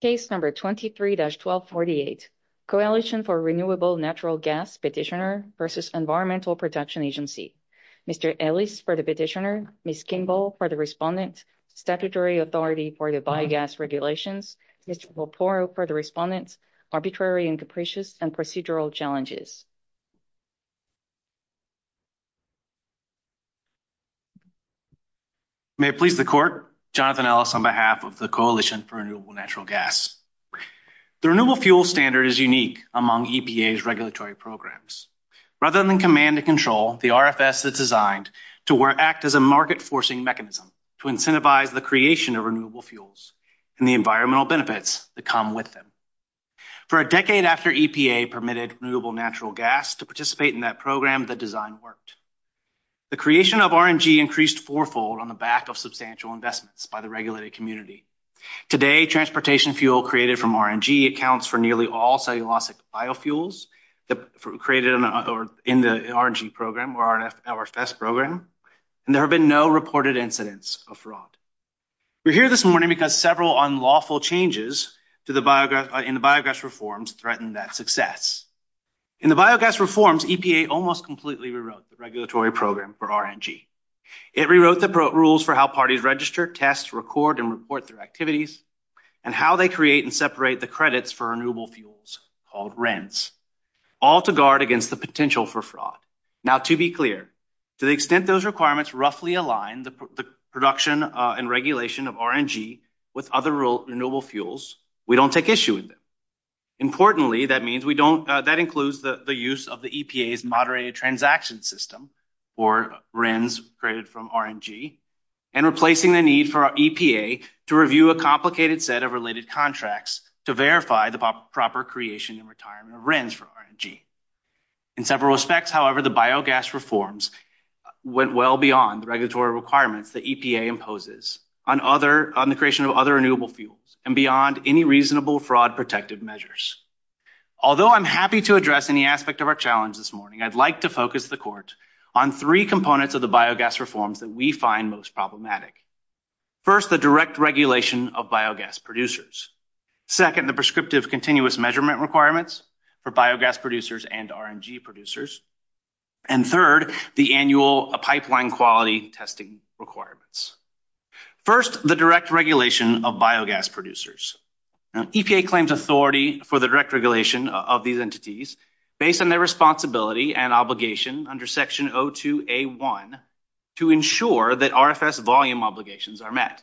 Case number 23-1248, Coalition for Renewable Natural Gas Petitioner v. Environmental Protection Agency. Mr. Ellis for the petitioner, Ms. Kingball for the respondent, Statutory Authority for the biogas regulations, Mr. Poporo for the respondent, Arbitrary and capricious and procedural challenges. May it please the court, Jonathan Ellis on behalf of the Coalition for Renewable Natural Gas. The Renewable Fuel Standard is unique among EPA's regulatory programs. Rather than command and control, the RFS is designed to act as a market-forcing mechanism to incentivize the creation of renewable fuels and the environmental benefits that come with them. For a decade after EPA permitted Renewable Natural Gas to participate in that program, the design worked. The creation of RNG increased fourfold on the back of substantial investments by the regulated community. Today, transportation fuel created from RNG accounts for nearly all cellulosic biofuels that were created in the RNG program or RFS program, We're here this morning because several unlawful changes in the biogas reforms threatened that success. In the biogas reforms, EPA almost completely rewrote the regulatory program for RNG. It rewrote the rules for how parties register, test, record, and report their activities, and how they create and separate the credits for renewable fuels, called rents, all to guard against the potential for fraud. Now, to be clear, to the extent those requirements roughly align the production and regulation of RNG with other renewable fuels, we don't take issue with them. Importantly, that includes the use of the EPA's moderated transaction system, or RENs created from RNG, and replacing the need for EPA to review a complicated set of related contracts to verify the proper creation and retirement of RENs from RNG. In several respects, however, the biogas reforms went well beyond the regulatory requirements that EPA imposes on the creation of other renewable fuels, and beyond any reasonable fraud-protective measures. Although I'm happy to address any aspect of our challenge this morning, I'd like to focus the Court on three components of the biogas reforms that we find most problematic. First, the direct regulation of biogas producers. Second, the prescriptive continuous measurement requirements for biogas producers and RNG producers. And third, the annual pipeline quality testing requirements. First, the direct regulation of biogas producers. EPA claims authority for the direct regulation of these entities based on their responsibility and obligation under Section 02A1 to ensure that RFS volume obligations are met.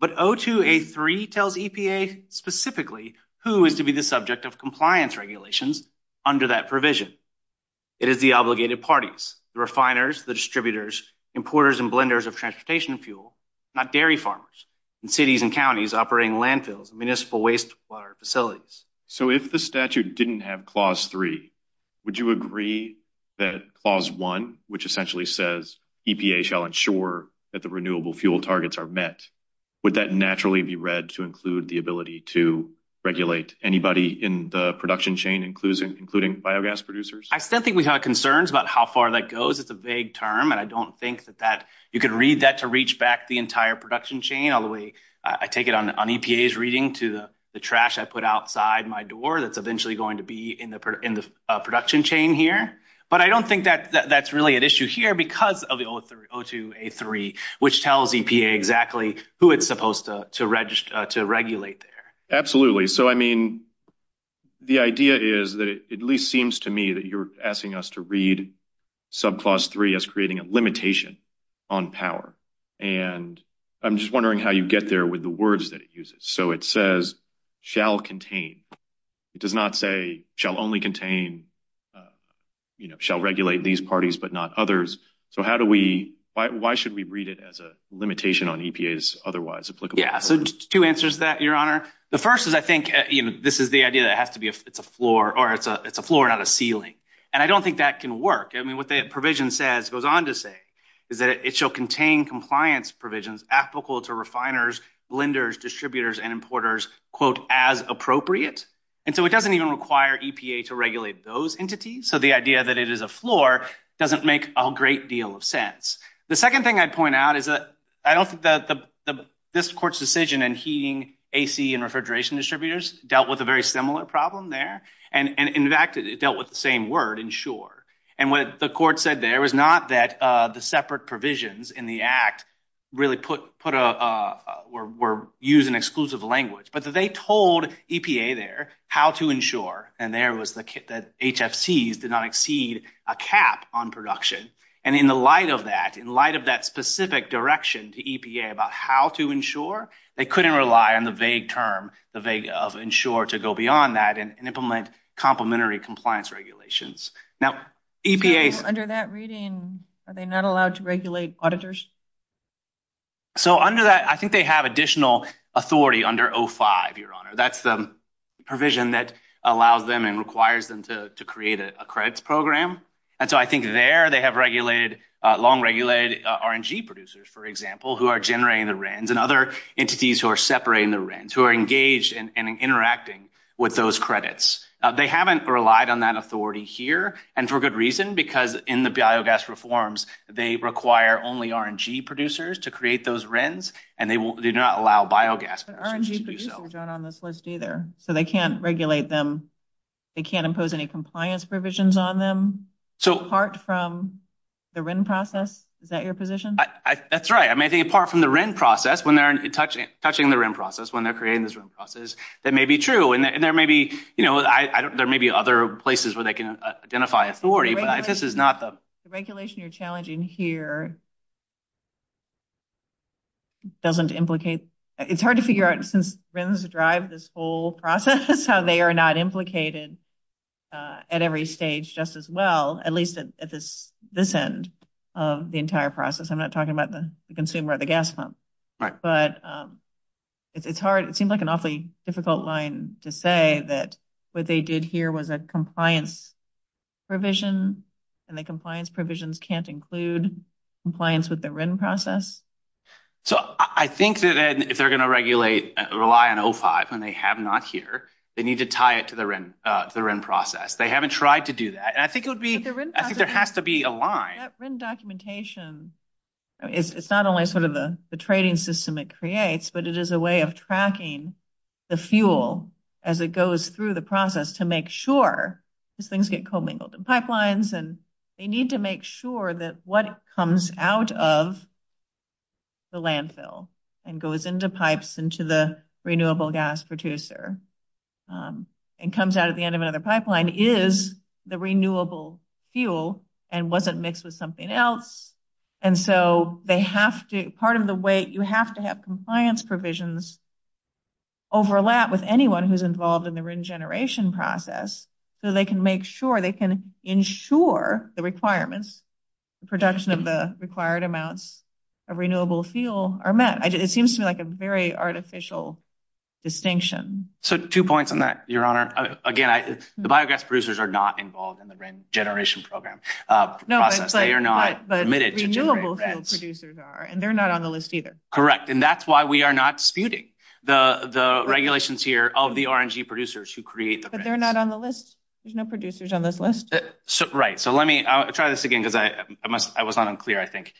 But 02A3 tells EPA specifically who is to be the subject of compliance regulations under that provision. It is the obligated parties, the refiners, the distributors, importers and blenders of transportation fuel, not dairy farmers, and cities and counties operating landfills and municipal wastewater facilities. So if the statute didn't have Clause 3, would you agree that Clause 1, which essentially says EPA shall ensure that the renewable fuel targets are met, would that naturally be read to include the ability to regulate anybody in the production chain, including biogas producers? I still think we have concerns about how far that goes. It's a vague term, and I don't think that you can read that to reach back the entire production chain. I take it on EPA's reading to the trash I put outside my door that's eventually going to be in the production chain here. But I don't think that's really an issue here because of the 02A3, which tells EPA exactly who it's supposed to regulate there. Absolutely. So, I mean, the idea is that it at least seems to me that you're asking us to read subclause 3 as creating a limitation on power. And I'm just wondering how you get there with the words that it uses. So it says shall contain. It does not say shall only contain, you know, shall regulate these parties but not others. So how do we why should we read it as a limitation on EPA's otherwise applicable? So two answers to that, Your Honor. The first is I think this is the idea that it has to be a floor or it's a floor, not a ceiling. And I don't think that can work. I mean, what the provision says goes on to say is that it shall contain compliance provisions applicable to refiners, lenders, distributors and importers, quote, as appropriate. And so it doesn't even require EPA to regulate those entities. So the idea that it is a floor doesn't make a great deal of sense. The second thing I'd point out is that I don't think that this court's decision and heating, A.C. and refrigeration distributors dealt with a very similar problem there. And in fact, it dealt with the same word insure. And what the court said there was not that the separate provisions in the act really put put a were used in exclusive language, but that they told EPA there how to insure. And there was the HFCs did not exceed a cap on production. And in the light of that, in light of that specific direction to EPA about how to insure, they couldn't rely on the vague term, the vague of insure to go beyond that and implement complimentary compliance regulations. Now, EPA is under that reading. Are they not allowed to regulate auditors? So under that, I think they have additional authority under 05, Your Honor. That's the provision that allows them and requires them to create a credit program. And so I think there they have regulated, long regulated RNG producers, for example, who are generating the rents and other entities who are separating the rents, who are engaged and interacting with those credits. They haven't relied on that authority here. And for good reason, because in the biogas reforms, they require only RNG producers to create those rents and they do not allow biogas. RNG producers aren't on this list either, so they can't regulate them. They can't impose any compliance provisions on them. So apart from the rent process, is that your position? That's right. I mean, I think apart from the rent process, when they're touching the rent process, when they're creating this rent process, that may be true. And there may be, you know, there may be other places where they can identify authority, but this is not the. The regulation you're challenging here doesn't implicate. It's hard to figure out since rentless drive this whole process, how they are not implicated at every stage, just as well, at least at this this end of the entire process. I'm not talking about the consumer at the gas pump, but it's hard. It seemed like an awfully difficult line to say that what they did here was a compliance provision. And the compliance provisions can't include compliance with the rent process. So I think that if they're going to regulate rely on 05 and they have not here, they need to tie it to the rent process. They haven't tried to do that. And I think it would be I think there has to be a line documentation. It's not only sort of the trading system it creates, but it is a way of tracking the fuel as it goes through the process to make sure things get commingled pipelines. And they need to make sure that what comes out of. The landfill and goes into pipes into the renewable gas producer and comes out at the end of another pipeline is the renewable fuel and wasn't mixed with something else. And so they have to part of the way you have to have compliance provisions. Overlap with anyone who's involved in the regeneration process so they can make sure they can ensure the requirements, the production of the required amounts of renewable fuel are met. It seems to me like a very artificial distinction. So two points on that, Your Honor. Again, the biogas producers are not involved in the generation program. No, they are not, but they're not on the list either. Correct. And that's why we are not disputing the regulations here of the RNG producers who create. They're not on the list. There's no producers on this list. Right. So let me try this again because I must I was not unclear. I think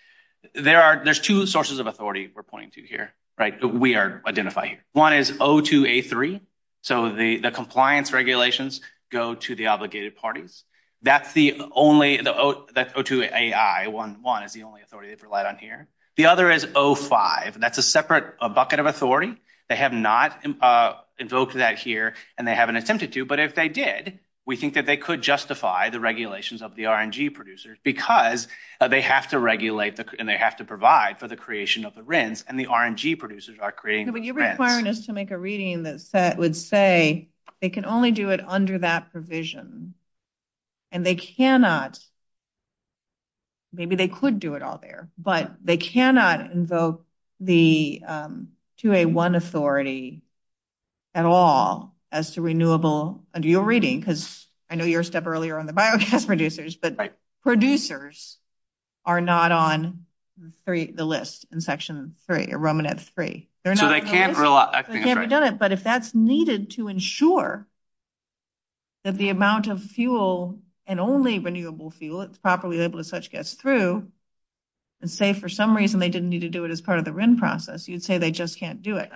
there are there's two sources of authority we're pointing to here. Right. We are identifying one is O2A3. So the compliance regulations go to the obligated parties. That's the only the O2A1. One is the only authority they've relied on here. The other is 05. That's a separate bucket of authority. They have not invoked that here and they haven't attempted to. But if they did, we think that they could justify the regulations of the RNG producers because they have to regulate. And they have to provide for the creation of the RINs and the RNG producers are creating. But you're requiring us to make a reading that would say they can only do it under that provision and they cannot. Maybe they could do it all there, but they cannot invoke the 2A1 authority at all as to renewable. Under your reading, because I know your step earlier on the biogas producers, but producers are not on the list in section three, Roman at three. So they can't rely on it. But if that's needed to ensure. That the amount of fuel and only renewable fuel it's properly labeled as such gets through. And say, for some reason, they didn't need to do it as part of the RIN process, you'd say they just can't do it.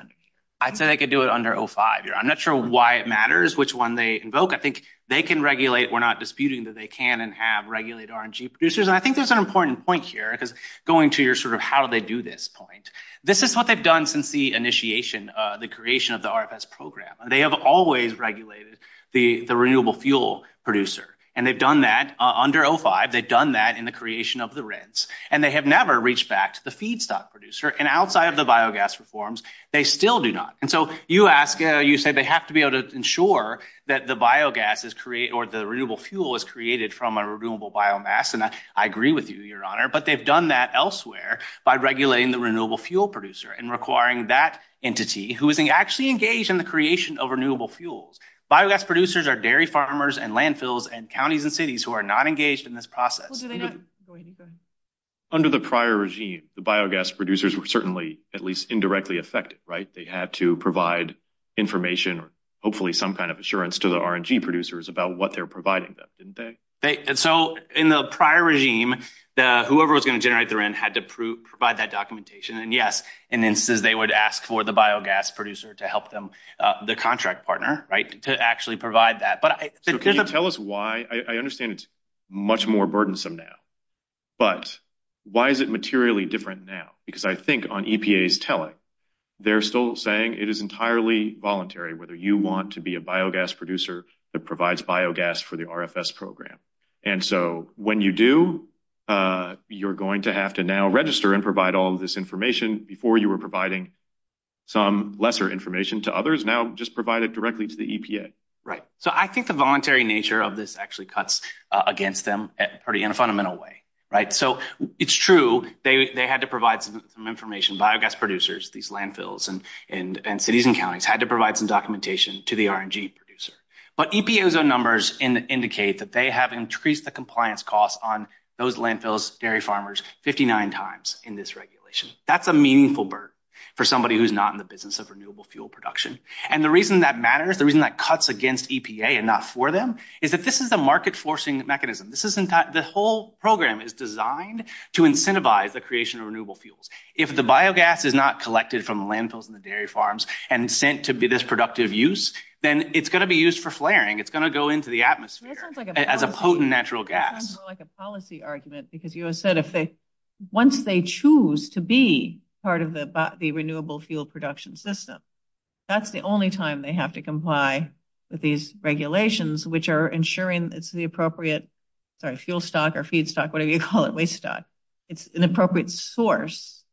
I'd say they could do it under 05. I'm not sure why it matters which one they invoke. I think they can regulate. We're not disputing that they can and have regulated RNG producers. And I think there's an important point here because going to your sort of how do they do this point. This is what they've done since the initiation, the creation of the RFS program. They have always regulated the renewable fuel producer and they've done that under 05. They've done that in the creation of the RINs and they have never reached back to the feedstock producer. And outside of the biogas reforms, they still do not. And so you ask, you say they have to be able to ensure that the biogas is created or the renewable fuel is created from a renewable biomass. And I agree with you, Your Honor, but they've done that elsewhere by regulating the renewable fuel producer and requiring that entity who is actually engaged in the creation of renewable fuels. Biogas producers are dairy farmers and landfills and counties and cities who are not engaged in this process. Under the prior regime, the biogas producers were certainly at least indirectly affected, right? They had to provide information or hopefully some kind of assurance to the RNG producers about what they're providing them, didn't they? And so in the prior regime, whoever was going to generate the RIN had to provide that documentation. And yes, in instances, they would ask for the biogas producer to help them, the contract partner, right, to actually provide that. So can you tell us why? I understand it's much more burdensome now, but why is it materially different now? Because I think on EPA's telling, they're still saying it is entirely voluntary whether you want to be a biogas producer that provides biogas for the RFS program. And so when you do, you're going to have to now register and provide all of this information. Before you were providing some lesser information to others, now just provide it directly to the EPA. Right. So I think the voluntary nature of this actually cuts against them in a fundamental way, right? So it's true they had to provide some information, biogas producers, these landfills and cities and counties had to provide some documentation to the RNG producer. But EPA's own numbers indicate that they have increased the compliance costs on those landfills, dairy farmers, 59 times in this regulation. That's a meaningful burden for somebody who's not in the business of renewable fuel production. And the reason that matters, the reason that cuts against EPA and not for them, is that this is a market forcing mechanism. The whole program is designed to incentivize the creation of renewable fuels. If the biogas is not collected from the landfills and the dairy farms and sent to be this productive use, then it's going to be used for flaring. It's going to go into the atmosphere as a potent natural gas. It sounds more like a policy argument, because you said once they choose to be part of the renewable fuel production system, that's the only time they have to comply with these regulations, which are ensuring it's the appropriate fuel stock or feed stock, whatever you call it, waste stock. It's an appropriate source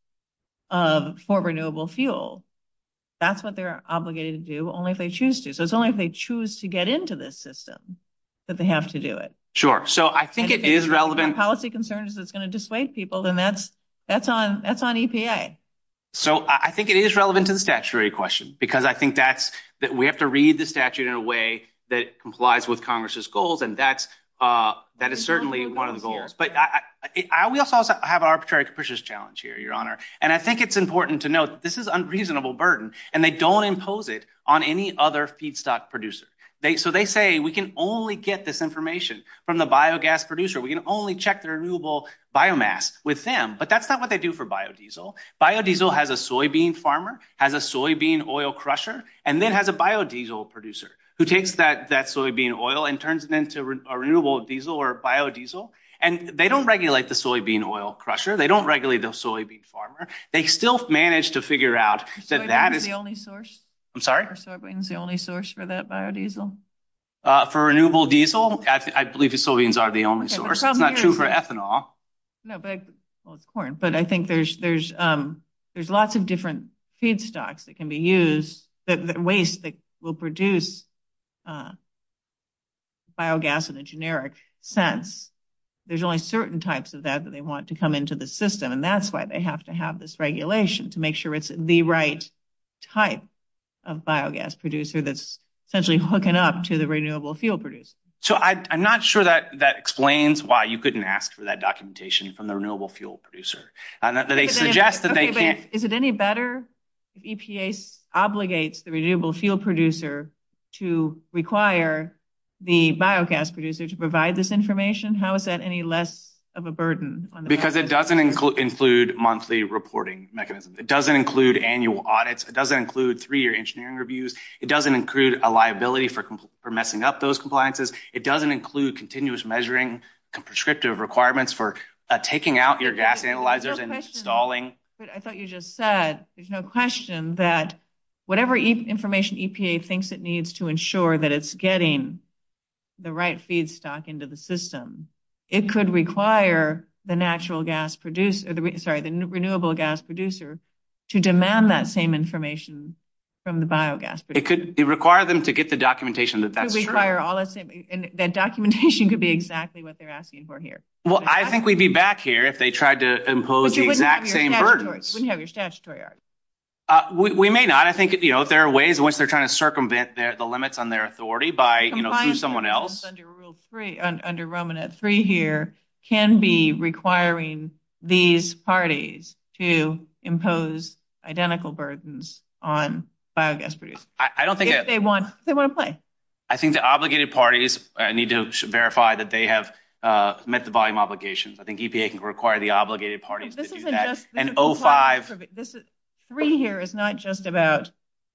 for renewable fuel. That's what they're obligated to do only if they choose to. So it's only if they choose to get into this system that they have to do it. Sure. So I think it is relevant policy concerns that's going to dissuade people, then that's that's on that's on EPA. So I think it is relevant to the statutory question, because I think that's that we have to read the statute in a way that complies with Congress's goals. And that's that is certainly one of the goals. But we also have arbitrary capricious challenge here, Your Honor. And I think it's important to note this is unreasonable burden and they don't impose it on any other feedstock producer. So they say we can only get this information from the biogas producer. We can only check the renewable biomass with them. But that's not what they do for biodiesel. Biodiesel has a soybean farmer, has a soybean oil crusher and then has a biodiesel producer who takes that that soybean oil and turns it into a renewable diesel or biodiesel. And they don't regulate the soybean oil crusher. They don't regulate the soybean farmer. They still manage to figure out that that is the only source. I'm sorry. So it brings the only source for that biodiesel for renewable diesel. I believe the Soviets are the only source. It's not true for ethanol. No, but it's corn. But I think there's there's there's lots of different feedstocks that can be used that waste that will produce. Biogas in a generic sense, there's only certain types of that that they want to come into the system. And that's why they have to have this regulation to make sure it's the right type of biogas producer that's essentially hooking up to the renewable fuel producer. So I'm not sure that that explains why you couldn't ask for that documentation from the renewable fuel producer. And they suggest that they can't. Is it any better if EPA obligates the renewable fuel producer to require the biogas producer to provide this information? How is that any less of a burden? Because it doesn't include monthly reporting mechanisms. It doesn't include annual audits. It doesn't include three year engineering reviews. It doesn't include a liability for messing up those compliances. It doesn't include continuous measuring prescriptive requirements for taking out your gas analyzers and installing. But I thought you just said there's no question that whatever information EPA thinks it needs to ensure that it's getting the right feedstock into the system. It could require the natural gas producer, sorry, the renewable gas producer to demand that same information from the biogas. It could require them to get the documentation that that's required. And that documentation could be exactly what they're asking for here. Well, I think we'd be back here if they tried to impose the exact same burdens. You wouldn't have your statutory argument. We may not. I think, you know, there are ways in which they're trying to circumvent the limits on their authority by, you know, through someone else. Under Roman at three here can be requiring these parties to impose identical burdens on biogas producers. I don't think they want they want to play. I think the obligated parties need to verify that they have met the volume obligations. I think EPA can require the obligated parties to do that. This three here is not just about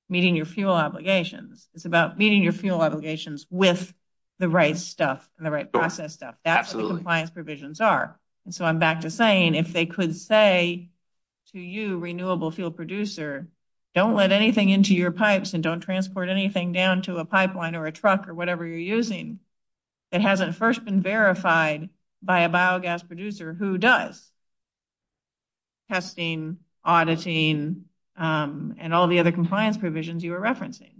meeting your fuel obligations. It's about meeting your fuel obligations with the right stuff and the right process stuff. Absolutely. Compliance provisions are. And so I'm back to saying if they could say to you, renewable fuel producer, don't let anything into your pipes and don't transport anything down to a pipeline or a truck or whatever you're using. It hasn't first been verified by a biogas producer who does. Testing, auditing and all the other compliance provisions you were referencing.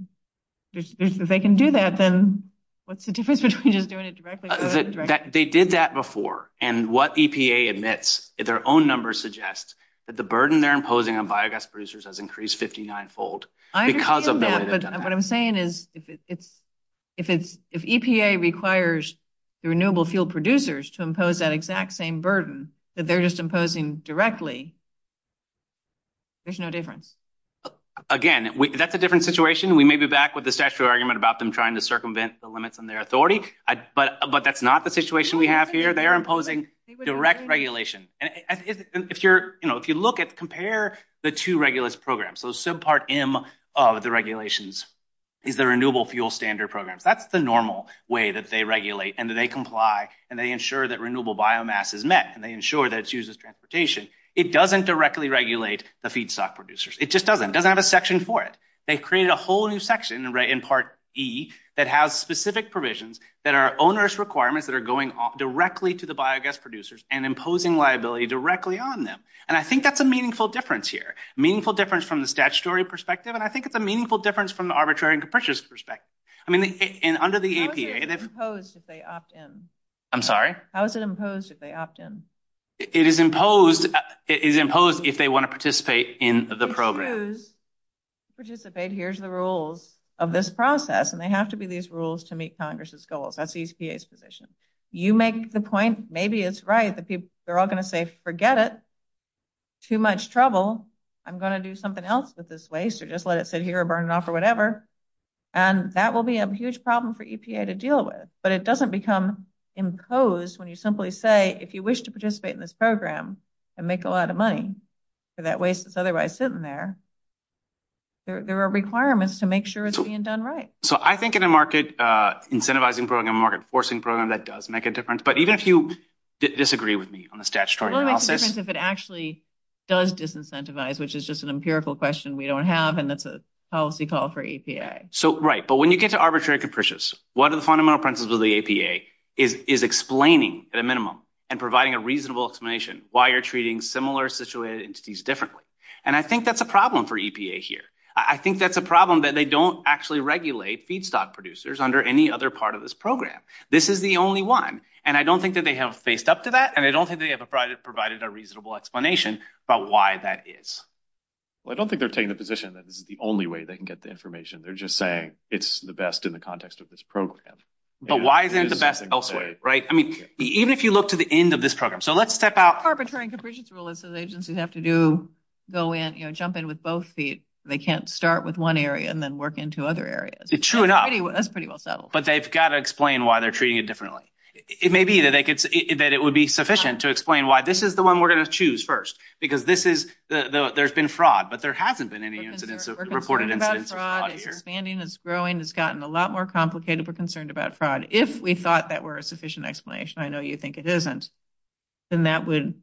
If they can do that, then what's the difference between just doing it directly? They did that before. And what EPA admits is their own numbers suggest that the burden they're imposing on biogas producers has increased 59 fold because of what I'm saying is it's. If it's if EPA requires the renewable fuel producers to impose that exact same burden that they're just imposing directly. There's no difference again, that's a different situation. We may be back with the statute argument about them trying to circumvent the limits on their authority, but but that's not the situation we have here. They are imposing direct regulation. And if you're, you know, if you look at compare the two regulates programs, so subpart M of the regulations is the renewable fuel standard programs. That's the normal way that they regulate and that they comply and they ensure that renewable biomass is met and they ensure that it's used as transportation. It doesn't directly regulate the feedstock producers. It just doesn't doesn't have a section for it. They created a whole new section right in part E that has specific provisions that are onerous requirements that are going on directly to the biogas producers and imposing liability directly on them. And I think that's a meaningful difference here, meaningful difference from the statutory perspective. And I think it's a meaningful difference from the arbitrary and capricious perspective. I mean, and under the EPA, if they opt in, I'm sorry, how is it imposed if they opt in, it is imposed is imposed if they want to participate in the program. If they choose to participate, here's the rules of this process and they have to be these rules to meet Congress's goals. That's the EPA's position. You make the point, maybe it's right that they're all going to say, forget it. Too much trouble. I'm going to do something else with this waste or just let it sit here or burn it off or whatever. And that will be a huge problem for EPA to deal with. But it doesn't become imposed when you simply say, if you wish to participate in this program and make a lot of money for that waste that's otherwise sitting there. There are requirements to make sure it's being done right. So I think in a market incentivizing program, a market forcing program, that does make a difference. But even if you disagree with me on the statutory process, if it actually does disincentivize, which is just an empirical question we don't have, and that's a policy call for EPA. So right. But when you get to arbitrary capricious, what are the fundamental principles of the EPA is explaining at a minimum and providing a reasonable explanation why you're treating similar situated entities differently. And I think that's a problem for EPA here. I think that's a problem that they don't actually regulate feedstock producers under any other part of this program. This is the only one. And I don't think that they have faced up to that. And I don't think they have provided a reasonable explanation about why that is. Well, I don't think they're taking the position that this is the only way they can get the information. They're just saying it's the best in the context of this program. But why isn't it the best elsewhere? Right. I mean, even if you look to the end of this program. So let's step out. Arbitrary capricious rule is that agencies have to go in, jump in with both feet. They can't start with one area and then work into other areas. True enough. That's pretty well settled. But they've got to explain why they're treating it differently. It may be that they could say that it would be sufficient to explain why this is the one we're going to choose first, because this is the there's been fraud, but there hasn't been any incidents of reported incidents. Expanding is growing. It's gotten a lot more complicated. We're concerned about fraud. If we thought that were a sufficient explanation. I know you think it isn't. And that would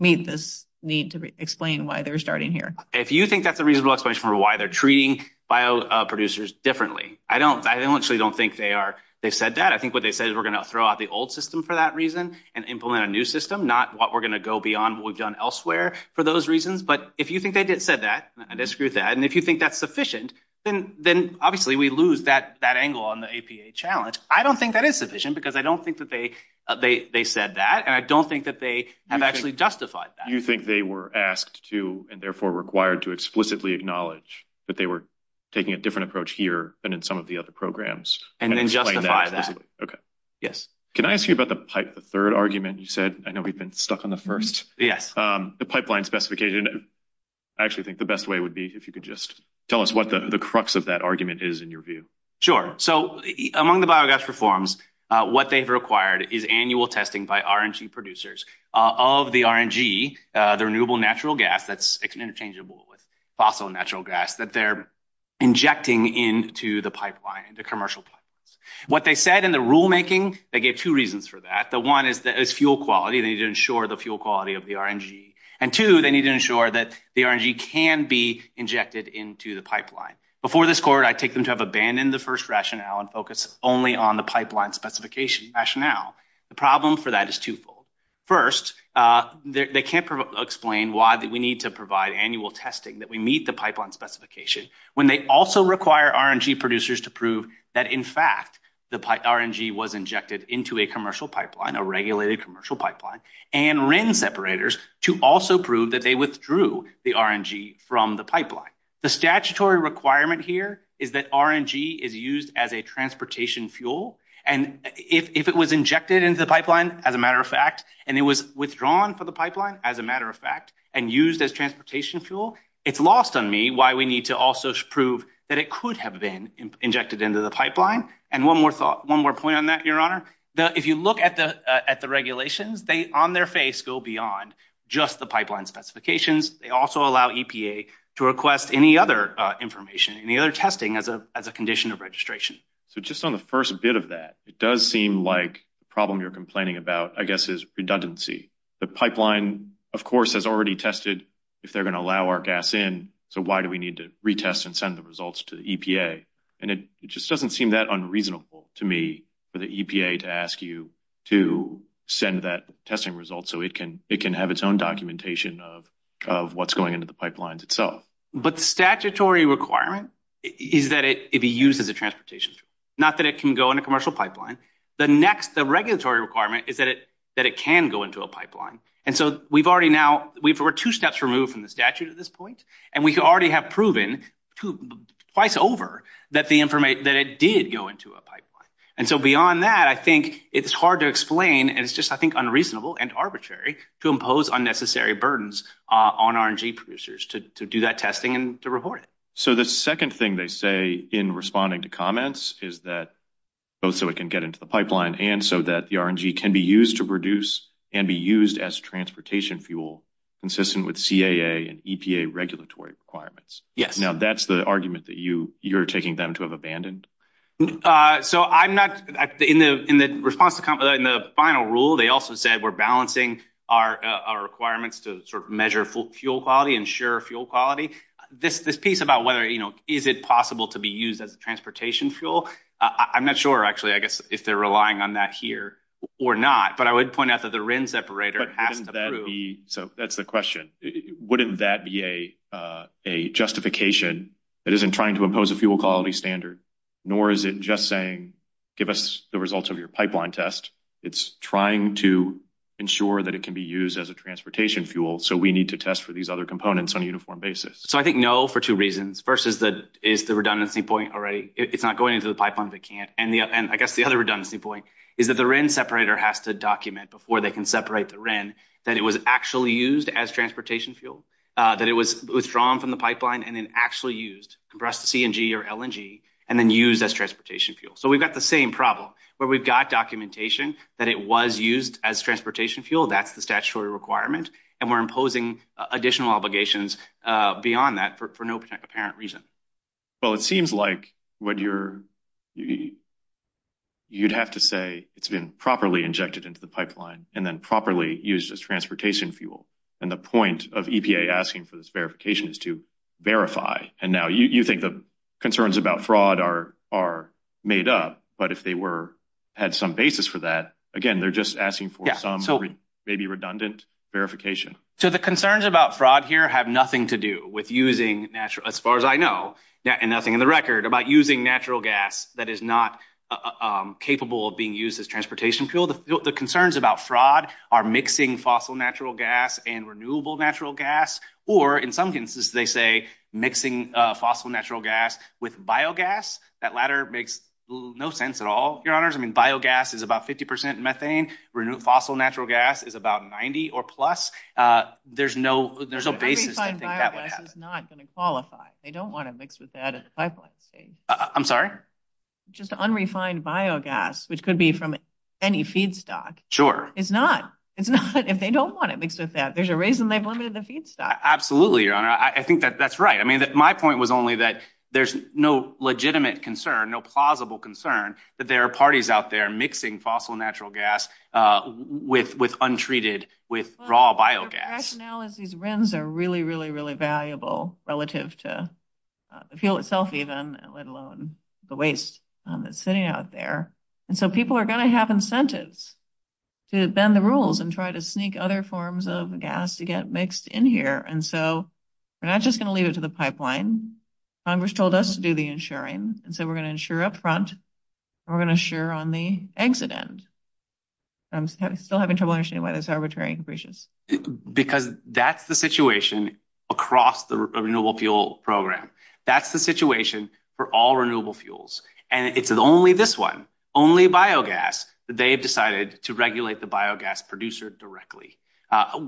meet this need to explain why they're starting here. If you think that's a reasonable explanation for why they're treating bio producers differently. I don't I don't actually don't think they are. They've said that. I think what they said is we're going to throw out the old system for that reason and implement a new system, not what we're going to go beyond what we've done elsewhere for those reasons. But if you think they did said that, I disagree with that. And if you think that's sufficient, then then obviously we lose that that angle on the APA challenge. I don't think that is sufficient because I don't think that they they said that. And I don't think that they have actually justified that. Do you think they were asked to and therefore required to explicitly acknowledge that they were taking a different approach here than in some of the other programs? And then justify that. OK. Yes. Can I ask you about the pipe? The third argument you said? I know we've been stuck on the first. Yes. The pipeline specification. I actually think the best way would be if you could just tell us what the crux of that argument is in your view. Sure. So among the biogas reforms, what they've required is annual testing by RNG producers of the RNG, the renewable natural gas that's interchangeable with fossil natural gas that they're injecting into the pipeline, the commercial. What they said in the rulemaking, they gave two reasons for that. The one is that is fuel quality. They need to ensure the fuel quality of the RNG. And two, they need to ensure that the RNG can be injected into the pipeline. Before this court, I take them to have abandoned the first rationale and focus only on the pipeline specification rationale. The problem for that is twofold. First, they can't explain why we need to provide annual testing that we meet the pipeline specification when they also require RNG producers to prove that. In fact, the RNG was injected into a commercial pipeline, a regulated commercial pipeline, and RIN separators to also prove that they withdrew the RNG from the pipeline. The statutory requirement here is that RNG is used as a transportation fuel. And if it was injected into the pipeline, as a matter of fact, and it was withdrawn from the pipeline, as a matter of fact, and used as transportation fuel, it's lost on me why we need to also prove that it could have been injected into the pipeline. And one more thought, one more point on that, Your Honor. If you look at the regulations, they, on their face, go beyond just the pipeline specifications. They also allow EPA to request any other information, any other testing as a condition of registration. So just on the first bit of that, it does seem like the problem you're complaining about, I guess, is redundancy. The pipeline, of course, has already tested if they're going to allow our gas in, so why do we need to retest and send the results to the EPA? And it just doesn't seem that unreasonable to me for the EPA to ask you to send that testing result so it can have its own documentation of what's going into the pipelines itself. But statutory requirement is that it be used as a transportation fuel, not that it can go in a commercial pipeline. The next, the regulatory requirement is that it can go into a pipeline. And so we've already now – we're two steps removed from the statute at this point, and we already have proven twice over that the – that it did go into a pipeline. And so beyond that, I think it's hard to explain, and it's just, I think, unreasonable and arbitrary to impose unnecessary burdens on R&G producers to do that testing and to report it. So the second thing they say in responding to comments is that both so it can get into the pipeline and so that the R&G can be used to produce and be used as transportation fuel consistent with CAA and EPA regulatory requirements. Yes. Now, that's the argument that you're taking them to have abandoned? So I'm not – in the response to – in the final rule, they also said we're balancing our requirements to sort of measure fuel quality, ensure fuel quality. This piece about whether, you know, is it possible to be used as a transportation fuel, I'm not sure, actually, I guess, if they're relying on that here or not. But I would point out that the RIN separator has to prove – So that's the question. Wouldn't that be a justification that isn't trying to impose a fuel quality standard, nor is it just saying give us the results of your pipeline test? It's trying to ensure that it can be used as a transportation fuel, so we need to test for these other components on a uniform basis. So I think no for two reasons. First is the redundancy point already. It's not going into the pipeline, but it can't. And I guess the other redundancy point is that the RIN separator has to document before they can separate the RIN that it was actually used as transportation fuel, that it was withdrawn from the pipeline and then actually used, compressed to CNG or LNG, and then used as transportation fuel. So we've got the same problem where we've got documentation that it was used as transportation fuel. That's the statutory requirement, and we're imposing additional obligations beyond that for no apparent reason. Well, it seems like you'd have to say it's been properly injected into the pipeline and then properly used as transportation fuel. And the point of EPA asking for this verification is to verify. And now you think the concerns about fraud are made up, but if they had some basis for that, again, they're just asking for some maybe redundant verification. So the concerns about fraud here have nothing to do with using natural – as far as I know, and nothing in the record – about using natural gas that is not capable of being used as transportation fuel. The concerns about fraud are mixing fossil natural gas and renewable natural gas, or in some instances they say mixing fossil natural gas with biogas. That latter makes no sense at all, Your Honors. I mean, biogas is about 50 percent methane. Renewable fossil natural gas is about 90 or plus. There's no basis to think that would happen. Unrefined biogas is not going to qualify. They don't want to mix with that at the pipeline stage. I'm sorry? Just unrefined biogas, which could be from any feedstock. Sure. It's not. It's not. If they don't want it mixed with that, there's a reason they've limited the feedstock. Absolutely, Your Honor. I think that's right. I mean, my point was only that there's no legitimate concern, no plausible concern that there are parties out there mixing fossil natural gas with untreated – with raw biogas. The rationale is these RINs are really, really, really valuable relative to the fuel itself even, let alone the waste that's sitting out there. And so people are going to have incentives to bend the rules and try to sneak other forms of gas to get mixed in here. And so we're not just going to leave it to the pipeline. Congress told us to do the insuring, and so we're going to insure up front, and we're going to insure on the exit end. I'm still having trouble understanding why that's arbitrary and capricious. Because that's the situation across the renewable fuel program. That's the situation for all renewable fuels. And it's only this one, only biogas, that they have decided to regulate the biogas producer directly.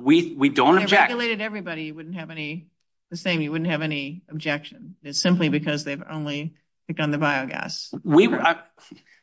We don't object. If they regulated everybody, you wouldn't have any – the same, you wouldn't have any objection. It's simply because they've only begun the biogas.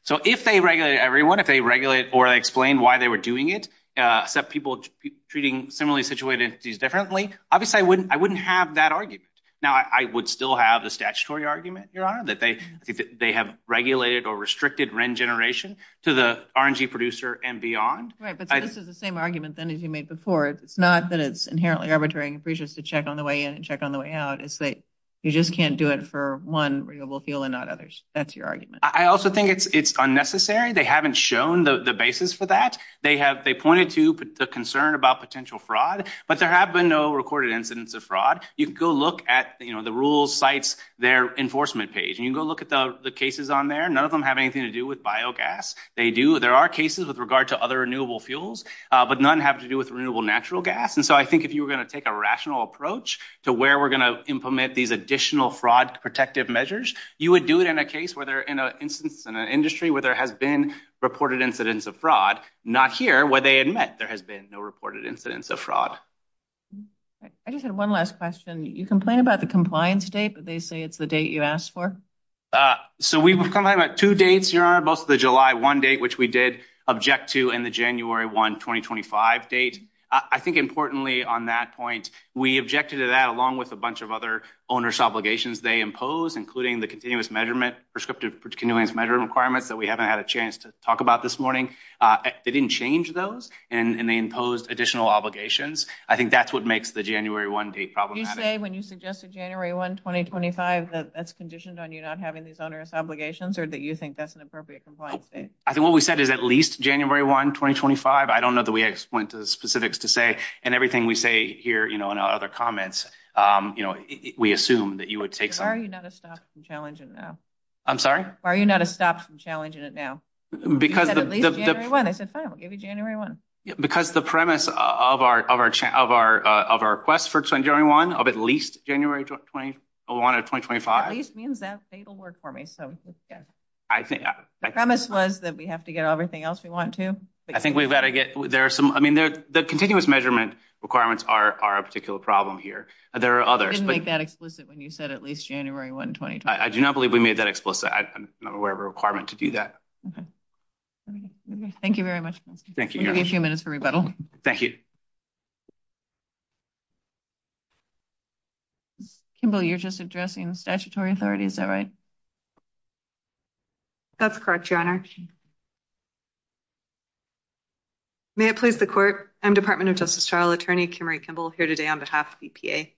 So if they regulated everyone, if they regulated or explained why they were doing it, except people treating similarly situated entities differently, obviously I wouldn't have that argument. Now, I would still have the statutory argument, Your Honor, that they have regulated or restricted RIN generation to the RNG producer and beyond. Right, but this is the same argument then as you made before. It's not that it's inherently arbitrary and capricious to check on the way in and check on the way out. It's that you just can't do it for one renewable fuel and not others. That's your argument. I also think it's unnecessary. They haven't shown the basis for that. They have – they pointed to the concern about potential fraud, but there have been no recorded incidents of fraud. You can go look at the rules, sites, their enforcement page, and you can go look at the cases on there. None of them have anything to do with biogas. They do – there are cases with regard to other renewable fuels, but none have to do with renewable natural gas. And so I think if you were going to take a rational approach to where we're going to implement these additional fraud protective measures, you would do it in a case where they're in an instance in an industry where there has been reported incidents of fraud, not here where they admit there has been no reported incidents of fraud. I just had one last question. You complain about the compliance date, but they say it's the date you asked for. So we've complained about two dates, Your Honor, both the July 1 date, which we did object to, and the January 1, 2025 date. I think importantly on that point, we objected to that along with a bunch of other owner's obligations they impose, including the continuous measurement, prescriptive continuous measurement requirements that we haven't had a chance to talk about this morning. They didn't change those, and they imposed additional obligations. I think that's what makes the January 1 date problematic. Did you say when you suggested January 1, 2025, that that's conditioned on you not having these owner's obligations, or that you think that's an appropriate compliance date? I think what we said is at least January 1, 2025. I don't know that we went to the specifics to say, and everything we say here in our other comments, we assume that you would take some. Why are you not a stop from challenging it now? I'm sorry? Why are you not a stop from challenging it now? You said at least January 1. I said, fine, we'll give you January 1. Because the premise of our request for January 1 of at least January 1, 2025. At least means that fatal word for me. The premise was that we have to get everything else we want to. I think we've got to get – I mean, the continuous measurement requirements are a particular problem here. There are others. You didn't make that explicit when you said at least January 1, 2025. I do not believe we made that explicit. I'm not aware of a requirement to do that. Okay. Thank you very much. Thank you. We'll give you a few minutes for rebuttal. Thank you. Kimball, you're just addressing statutory authority. Is that right? That's correct, Your Honor. May it please the court. I'm Department of Justice trial attorney Kim Marie Kimball here today on behalf of EPA.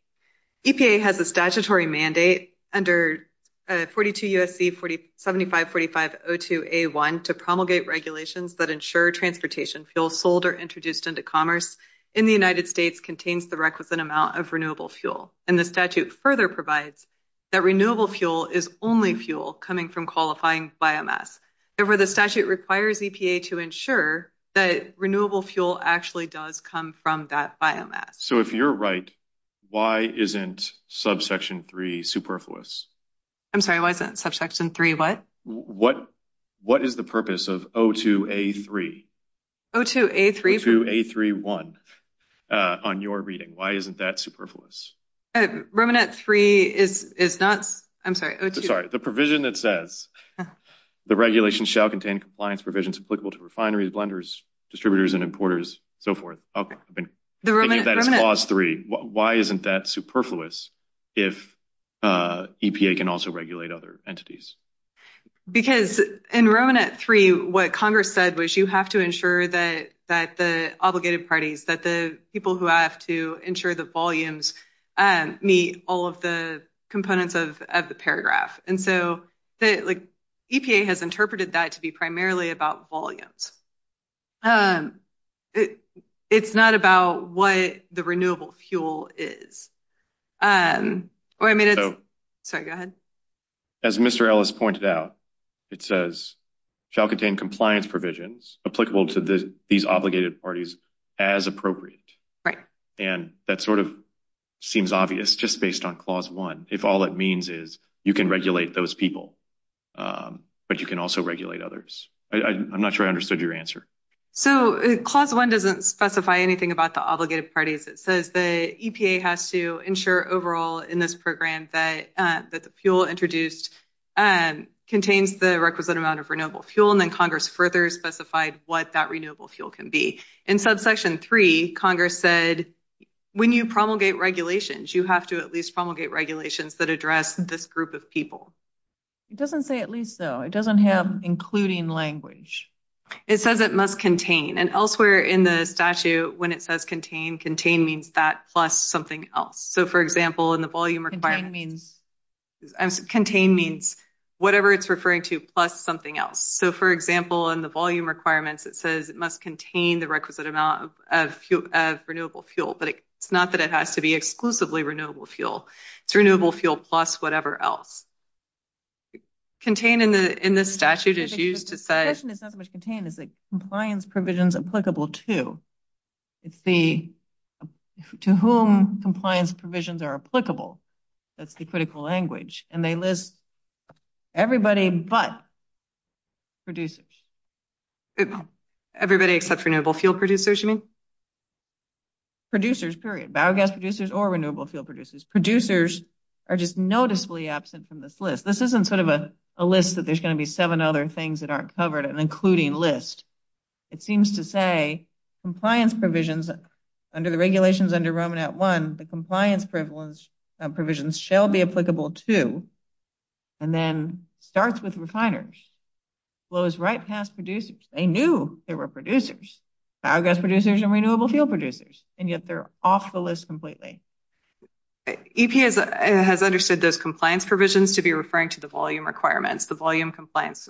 EPA has a statutory mandate under 42 U.S.C. 7545-02A1 to promulgate regulations that ensure transportation fuels sold or introduced into commerce in the United States contains the requisite amount of renewable fuel. And the statute further provides that renewable fuel is only fuel coming from qualifying biomass. Therefore, the statute requires EPA to ensure that renewable fuel actually does come from that biomass. So if you're right, why isn't subsection 3 superfluous? I'm sorry. Why is that subsection 3 what? What is the purpose of 02A3? 02A3? 02A31 on your reading. Why isn't that superfluous? Romanet 3 is not. I'm sorry. Sorry. The provision that says the regulation shall contain compliance provisions applicable to refineries, blenders, distributors and importers, so forth. Okay. I think that's clause 3. Why isn't that superfluous if EPA can also regulate other entities? Because in Romanet 3, what Congress said was you have to ensure that the obligated parties, that the people who have to ensure the volumes meet all of the components of the paragraph. And so EPA has interpreted that to be primarily about volumes. It's not about what the renewable fuel is. Sorry, go ahead. As Mr. Ellis pointed out, it says shall contain compliance provisions applicable to these obligated parties as appropriate. Right. And that sort of seems obvious just based on clause 1, if all it means is you can regulate those people, but you can also regulate others. I'm not sure I understood your answer. So clause 1 doesn't specify anything about the obligated parties. It says the EPA has to ensure overall in this program that the fuel introduced contains the requisite amount of renewable fuel. And then Congress further specified what that renewable fuel can be. In subsection 3, Congress said when you promulgate regulations, you have to at least promulgate regulations that address this group of people. It doesn't say at least so. It doesn't have including language. It says it must contain. And elsewhere in the statute when it says contain, contain means that plus something else. So, for example, in the volume requirements. Contain means? Contain means whatever it's referring to plus something else. So, for example, in the volume requirements, it says it must contain the requisite amount of renewable fuel. But it's not that it has to be exclusively renewable fuel. It's renewable fuel plus whatever else. Contained in this statute is used to say. The question is not so much contained as compliance provisions applicable to. It's the to whom compliance provisions are applicable. That's the critical language. And they list everybody but producers. Everybody except renewable fuel producers, you mean? Producers, period. Biogas producers or renewable fuel producers. Producers are just noticeably absent from this list. This isn't sort of a list that there's going to be seven other things that aren't covered and including list. It seems to say compliance provisions under the regulations under Roman at one. The compliance provisions shall be applicable to. And then starts with refiners. Flows right past producers. They knew there were producers. Biogas producers and renewable fuel producers. And yet they're off the list completely. EPA has understood those compliance provisions to be referring to the volume requirements, the volume compliance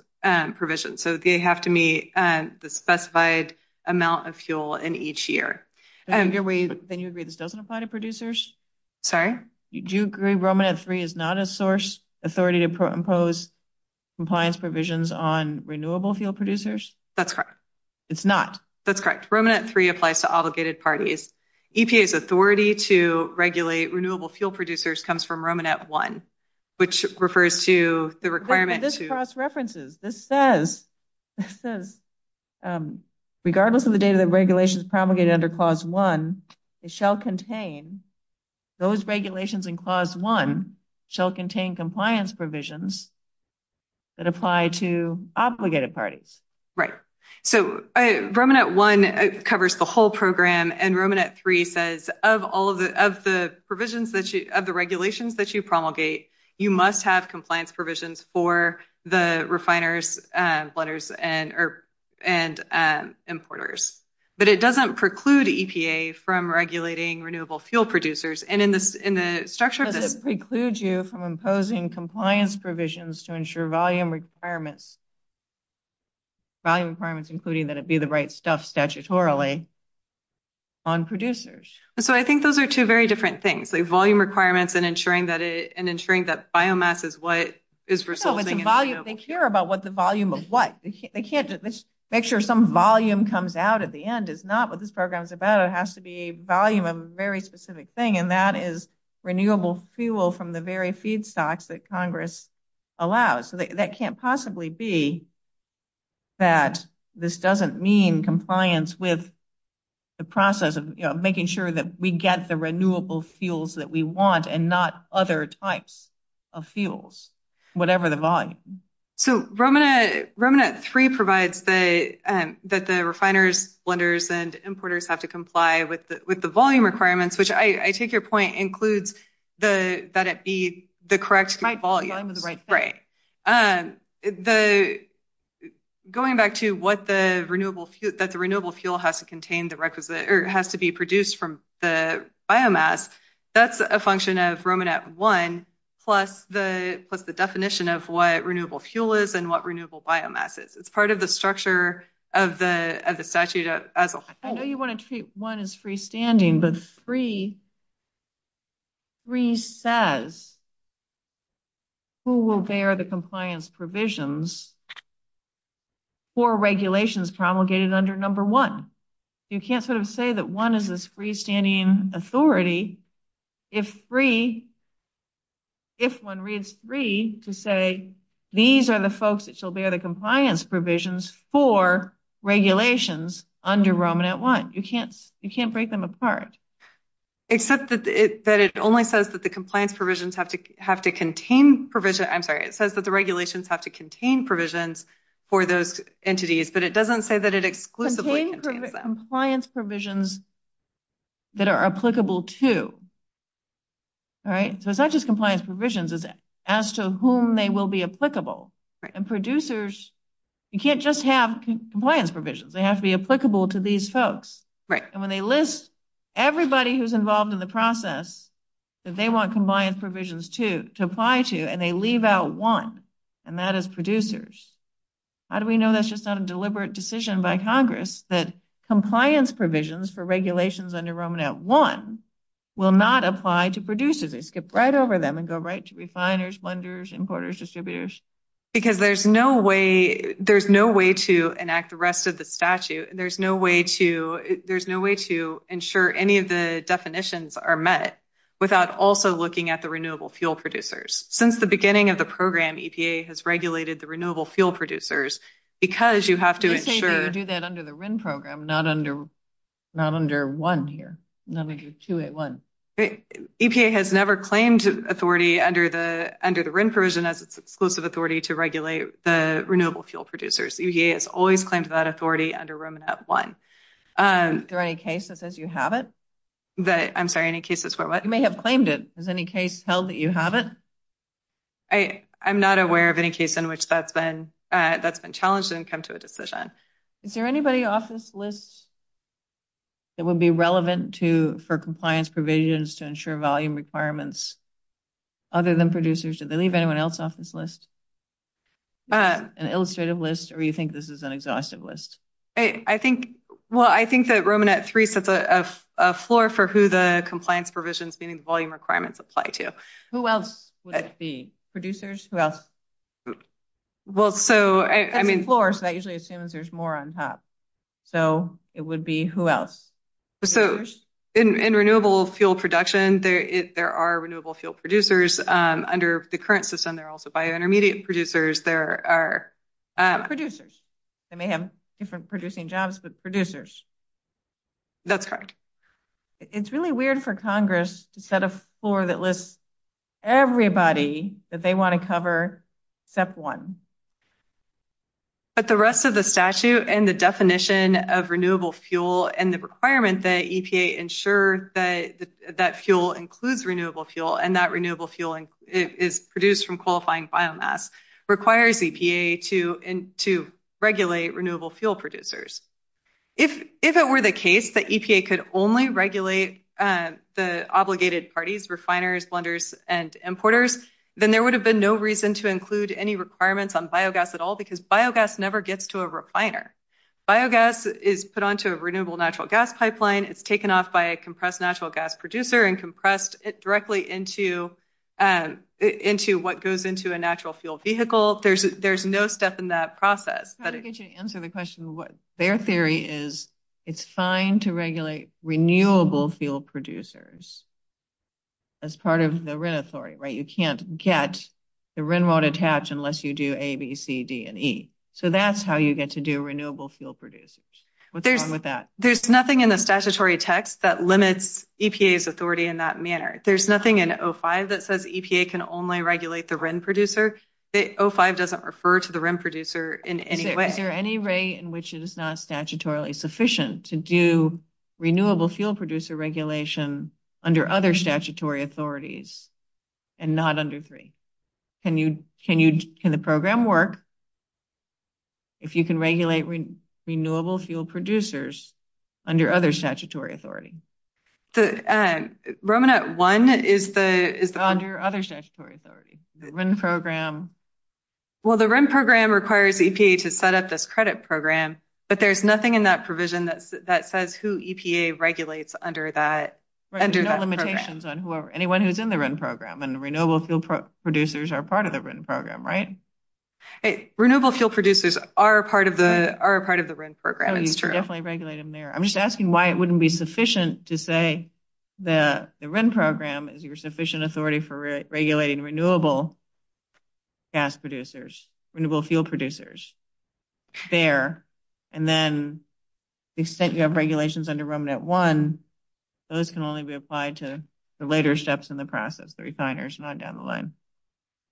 provision. So they have to meet the specified amount of fuel in each year. And then you agree this doesn't apply to producers. Sorry. Do you agree? Roman at three is not a source authority to impose compliance provisions on renewable fuel producers. That's correct. It's not. That's correct. Roman at three applies to obligated parties. EPA is authority to regulate. Renewable fuel producers comes from Roman at one, which refers to the requirement to cross references. This says this is regardless of the data that regulations promulgated under clause one. It shall contain those regulations in clause one shall contain compliance provisions. That apply to obligated parties, right? So Roman at one covers the whole program and Roman at three says of all of the of the provisions that of the regulations that you promulgate. You must have compliance provisions for the refiners letters and and importers. But it doesn't preclude EPA from regulating renewable fuel producers. And in this in the structure precludes you from imposing compliance provisions to ensure volume requirements. Volume requirements, including that it be the right stuff statutorily. On producers. So I think those are two very different things. They volume requirements and ensuring that it and ensuring that biomass is what is resulting in volume. They care about what the volume of what they can't make sure some volume comes out at the end is not what this program is about. It has to be volume of very specific thing. And that is renewable fuel from the very feedstocks that Congress allows. So that can't possibly be. That this doesn't mean compliance with. The process of making sure that we get the renewable fuels that we want and not other types of fuels, whatever the volume. So Roman Roman at three provides the that the refiners blenders and importers have to comply with the volume requirements, which I take your point includes the that it be the correct volume. Right. Right. The going back to what the renewable fuel that the renewable fuel has to contain the requisite has to be produced from the biomass. That's a function of Roman at one plus the plus the definition of what renewable fuel is and what renewable biomass is. It's part of the structure of the statute. I know you want to treat one is freestanding, but three. Three says who will bear the compliance provisions for regulations promulgated under number one. You can't sort of say that one is this freestanding authority. Except that it that it only says that the compliance provisions have to have to contain provision. I'm sorry. It says that the regulations have to contain provisions for those entities, but it doesn't say that it exclusively compliance provisions. That are applicable to. All right, so it's not just compliance provisions is as to whom they will be applicable and producers. You can't just have compliance provisions. They have to be applicable to these folks. Right. And when they list everybody who's involved in the process. They want compliance provisions to to apply to, and they leave out one. And that is producers. How do we know that's just not a deliberate decision by Congress that compliance provisions for regulations under Roman at one will not apply to producers. They skip right over them and go right to refiners blenders importers distributors. Because there's no way there's no way to enact the rest of the statute and there's no way to there's no way to ensure any of the definitions are met without also looking at the renewable fuel producers since the beginning of the program EPA has regulated the renewable fuel producers. Because you have to do that under the program, not under. Not under 1 here, not 2 at 1. Okay. EPA has never claimed authority under the under the provision as its exclusive authority to regulate the renewable fuel producers. He has always claimed that authority under Roman at 1. Is there any cases as you have it. That I'm sorry, any cases for what you may have claimed it as any case held that you have it. I, I'm not aware of any case in which that's been that's been challenged and come to a decision. Is there anybody office lists. That would be relevant to for compliance provisions to ensure volume requirements. Other than producers, did they leave anyone else off this list. An illustrative list, or you think this is an exhaustive list. I think, well, I think that Roman at 3 sets a floor for who the compliance provisions, meaning volume requirements apply to who else would be producers who else. Well, so, I mean, floors that usually assumes there's more on top. So, it would be who else. So, in renewable fuel production, there, there are renewable fuel producers under the current system. They're also by intermediate producers. There are producers. They may have different producing jobs, but producers. That's correct. It's really weird for Congress to set a floor that lists. Everybody that they want to cover. But the rest of the statute, and the definition of renewable fuel, and the requirement that ensure that that fuel includes renewable fuel. And that renewable fuel is produced from qualifying biomass requires to regulate renewable fuel producers. If it were the case that EPA could only regulate the obligated parties, refiners, blenders and importers, then there would have been no reason to include any requirements on biogas at all. Because biogas never gets to a refiner. Biogas is put onto a renewable natural gas pipeline. It's taken off by a compressed natural gas producer and compressed it directly into into what goes into a natural fuel vehicle. There's there's no step in that process. Answer the question. What their theory is, it's fine to regulate renewable fuel producers. As part of the rent authority, right? You can't get the wren won't attach unless you do A, B, C, D, and E. So that's how you get to do renewable fuel producers with that. There's nothing in the statutory text that limits EPA's authority in that manner. There's nothing in 05 that says EPA can only regulate the producer. 05 doesn't refer to the producer in any way. Is there any way in which it is not statutorily sufficient to do renewable fuel producer regulation under other statutory authorities and not under three? Can you can you can the program work? If you can regulate renewable fuel producers under other statutory authority. The Roman at one is the is the under other statutory authority program. Well, the rent program requires EPA to set up this credit program, but there's nothing in that provision that that says who EPA regulates under that. No limitations on whoever anyone who's in the rent program and renewable fuel producers are part of the rent program, right? Renewable fuel producers are part of the are part of the rent program. It's true. Definitely regulate them there. I'm just asking why it wouldn't be sufficient to say that the rent program is your sufficient authority for regulating renewable gas producers, renewable fuel producers there. And then the extent you have regulations under Roman at one. Those can only be applied to the later steps in the process. The refiners not down the line.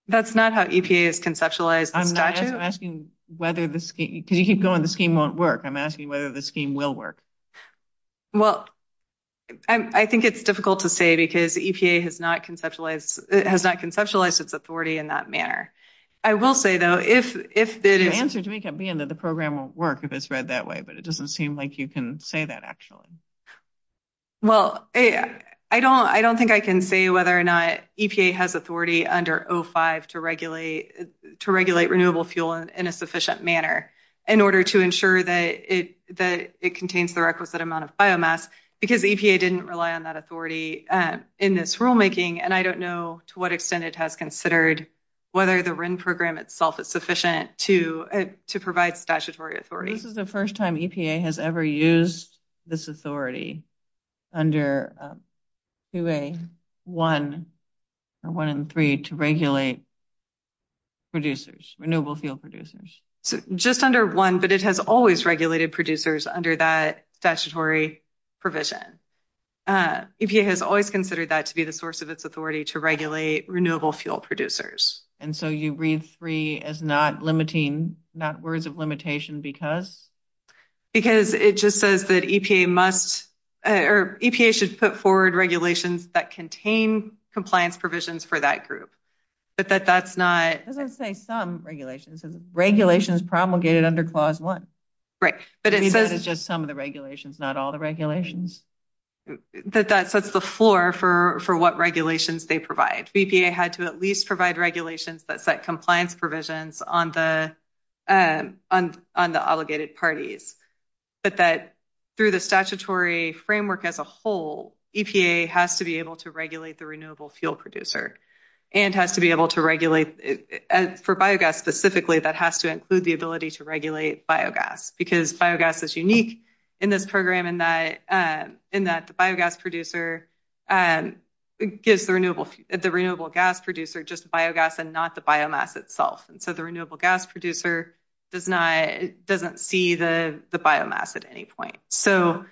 That's not how EPA is conceptualized. I'm not asking whether the scheme because you keep going. The scheme won't work. I'm asking whether the scheme will work. Well, I think it's difficult to say because EPA has not conceptualized. It has not conceptualized its authority in that manner. I will say, though, if if the answer to me can be in that, the program will work if it's read that way. But it doesn't seem like you can say that. Well, I don't I don't think I can say whether or not EPA has authority under 05 to regulate to regulate renewable fuel in a sufficient manner in order to ensure that it that it contains the requisite amount of biomass because EPA didn't rely on that authority in this rulemaking. And I don't know to what extent it has considered whether the Ren program itself is sufficient to to provide statutory authority. This is the first time EPA has ever used this authority under a way one or one in three to regulate. Producers renewable fuel producers just under one, but it has always regulated producers under that statutory provision. EPA has always considered that to be the source of its authority to regulate renewable fuel producers. And so you read three as not limiting, not words of limitation because because it just says that EPA must or EPA should put forward regulations that contain compliance provisions for that group. But that that's not as I say, some regulations, regulations promulgated under clause one, right? But it says it's just some of the regulations, not all the regulations that that sets the floor for for what regulations they provide. EPA had to at least provide regulations that set compliance provisions on the on the obligated parties, but that through the statutory framework as a whole, EPA has to be able to regulate the renewable fuel producer and has to be able to regulate for biogas. Specifically, that has to include the ability to regulate biogas because biogas is unique in this program in that in that the biogas producer gives the renewable the renewable gas producer just biogas and not the biomass itself. And so the renewable gas producer does not doesn't see the biomass at any point. So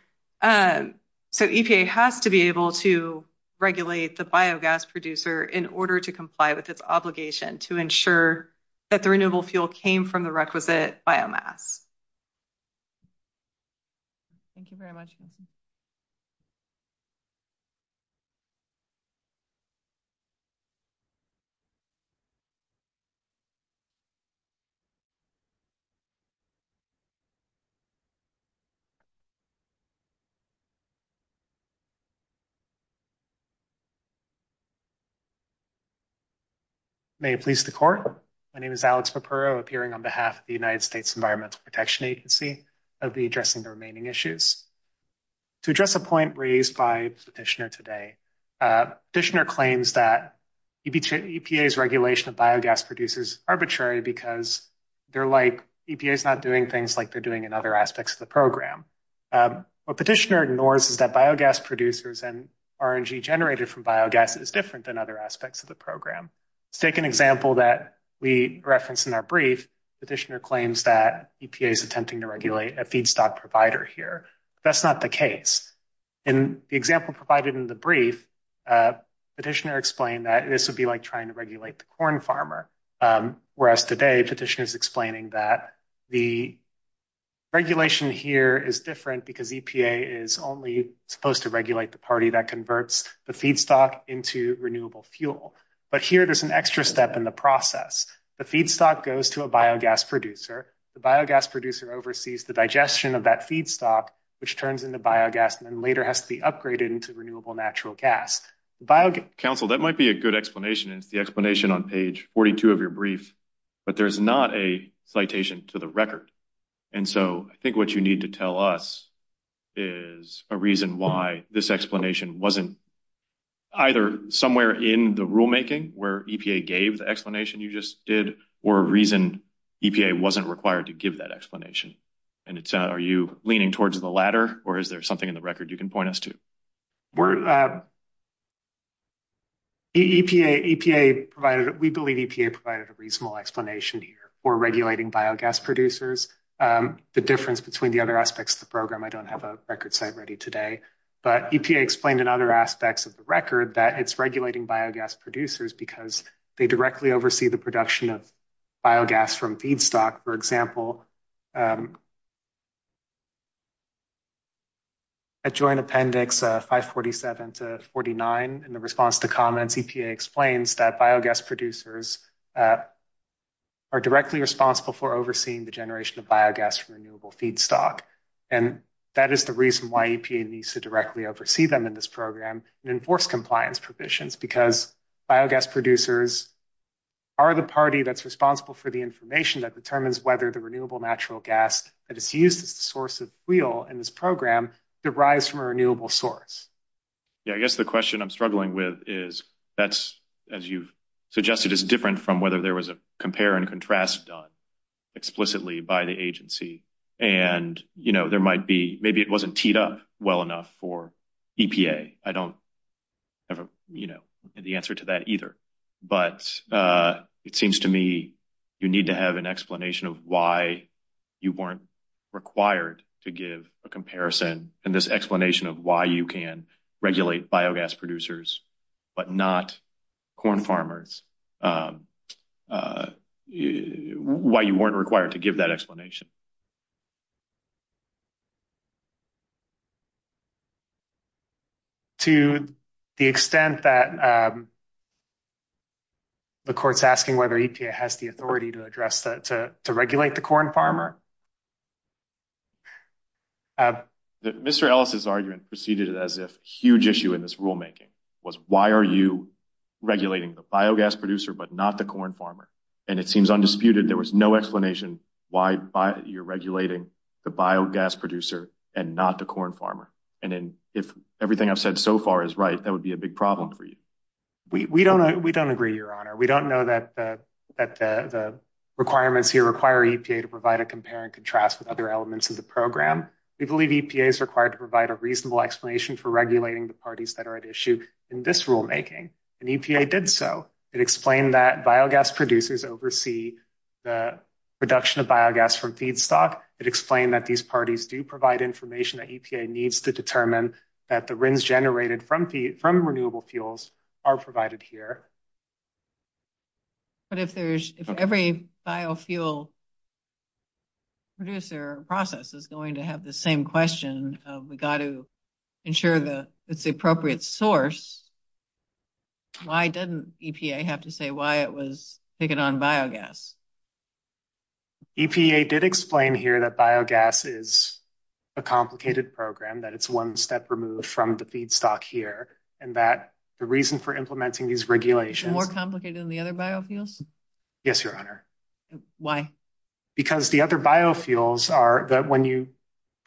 so EPA has to be able to regulate the biogas producer in order to comply with its obligation to ensure that the renewable fuel came from the requisite biomass. Thank you very much. Thank you. To address a point raised by Petitioner today, Petitioner claims that EPA's regulation of biogas producers arbitrary because they're like EPA's not doing things like they're doing in other aspects of the program. What Petitioner ignores is that biogas producers and RNG generated from biogas is different than other aspects of the program. Let's take an example that we referenced in our brief. Petitioner claims that EPA is attempting to regulate a feedstock provider here. That's not the case. In the example provided in the brief, Petitioner explained that this would be like trying to regulate the corn farmer. Whereas today, Petitioner is explaining that the regulation here is different because EPA is only supposed to regulate the party that converts the feedstock into renewable fuel. But here, there's an extra step in the process. The feedstock goes to a biogas producer. The biogas producer oversees the digestion of that feedstock, which turns into biogas and later has to be upgraded into renewable natural gas. Council, that might be a good explanation. It's the explanation on page 42 of your brief, but there's not a citation to the record. And so I think what you need to tell us is a reason why this explanation wasn't either somewhere in the rulemaking where EPA gave the explanation you just did, or a reason EPA wasn't required to give that explanation. And are you leaning towards the latter, or is there something in the record you can point us to? We believe EPA provided a reasonable explanation here for regulating biogas producers. The difference between the other aspects of the program, I don't have a record site ready today. But EPA explained in other aspects of the record that it's regulating biogas producers because they directly oversee the production of biogas from feedstock. For example, at Joint Appendix 547 to 49, in the response to comments, EPA explains that biogas producers are directly responsible for overseeing the generation of biogas from renewable feedstock. And that is the reason why EPA needs to directly oversee them in this program and enforce compliance provisions, because biogas producers are the party that's responsible for the information that determines whether the renewable natural gas that is used as the source of fuel in this program derives from a renewable source. I guess the question I'm struggling with is, that's, as you've suggested, is different from whether there was a compare and contrast done explicitly by the agency. And, you know, there might be, maybe it wasn't teed up well enough for EPA. I don't have, you know, the answer to that either. But it seems to me you need to have an explanation of why you weren't required to give a comparison and this explanation of why you can regulate biogas producers but not corn farmers, why you weren't required to give that explanation. To the extent that the court's asking whether EPA has the authority to address that, to regulate the corn farmer. Mr. Ellis's argument proceeded as if a huge issue in this rulemaking was, why are you regulating the biogas producer but not the corn farmer? And it seems undisputed there was no explanation why you're regulating the biogas producer and not the corn farmer. And if everything I've said so far is right, that would be a big problem for you. We don't agree, Your Honor. We don't know that the requirements here require EPA to provide a compare and contrast with other elements of the program. We believe EPA is required to provide a reasonable explanation for regulating the parties that are at issue in this rulemaking. And EPA did so. It explained that biogas producers oversee the production of biogas from feedstock. It explained that these parties do provide information that EPA needs to determine that the RINs generated from renewable fuels are provided here. But if every biofuel producer process is going to have the same question of, we've got to ensure that it's the appropriate source, why didn't EPA have to say why it was taking on biogas? EPA did explain here that biogas is a complicated program, that it's one step removed from the feedstock here, and that the reason for implementing these regulations... More complicated than the other biofuels? Yes, Your Honor. Why? Because the other biofuels are that when you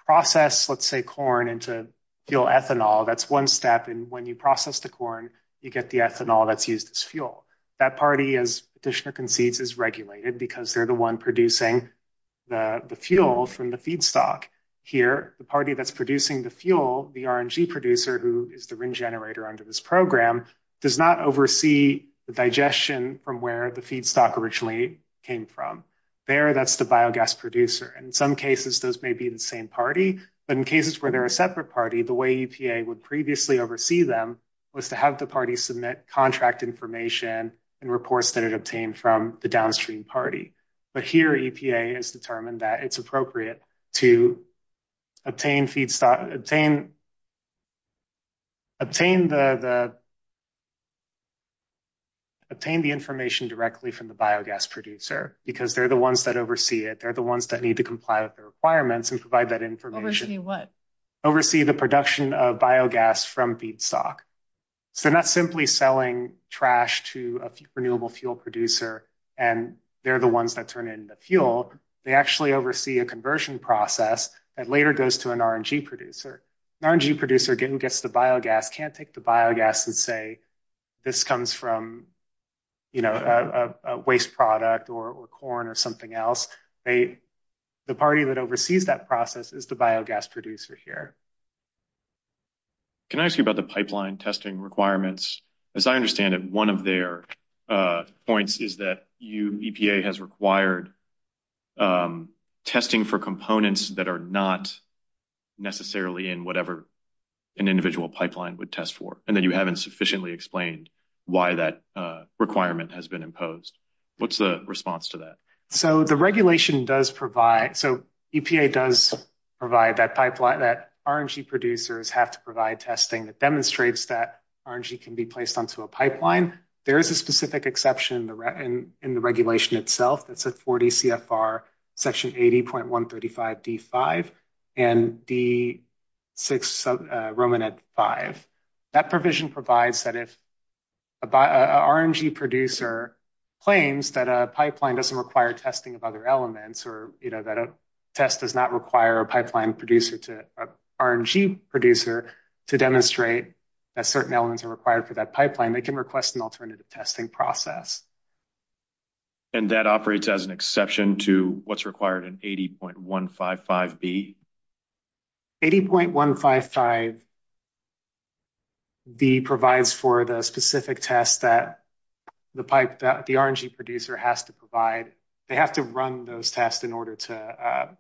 process, let's say, corn into fuel ethanol, that's one step. And when you process the corn, you get the ethanol that's used as fuel. That party, as Petitioner concedes, is regulated because they're the one producing the fuel from the feedstock. Here, the party that's producing the fuel, the RNG producer, who is the RIN generator under this program, does not oversee the digestion from where the feedstock originally came from. There, that's the biogas producer. In some cases, those may be the same party, but in cases where they're a separate party, the way EPA would previously oversee them was to have the party submit contract information and reports that it obtained from the downstream party. But here, EPA has determined that it's appropriate to obtain the information directly from the biogas producer because they're the ones that oversee it. They're the ones that need to comply with the requirements and provide that information. Oversee what? Oversee the production of biogas from feedstock. So they're not simply selling trash to a renewable fuel producer, and they're the ones that turn it into fuel. They actually oversee a conversion process that later goes to an RNG producer. An RNG producer who gets the biogas can't take the biogas and say, this comes from a waste product or corn or something else. The party that oversees that process is the biogas producer here. Can I ask you about the pipeline testing requirements? As I understand it, one of their points is that EPA has required testing for components that are not necessarily in whatever an individual pipeline would test for. And then you haven't sufficiently explained why that requirement has been imposed. What's the response to that? So the regulation does provide. So EPA does provide that pipeline that RNG producers have to provide testing that demonstrates that RNG can be placed onto a pipeline. There is a specific exception in the regulation itself. That's a 40 CFR section 80.135 D5 and D6 Romanet 5. That provision provides that if an RNG producer claims that a pipeline doesn't require testing of other elements, or that a test does not require a pipeline producer to RNG producer to demonstrate that certain elements are required for that pipeline, they can request an alternative testing process. And that operates as an exception to what's required in 80.155 B. 80.155 B provides for the specific tests that the pipe that the RNG producer has to provide. They have to run those tests in order to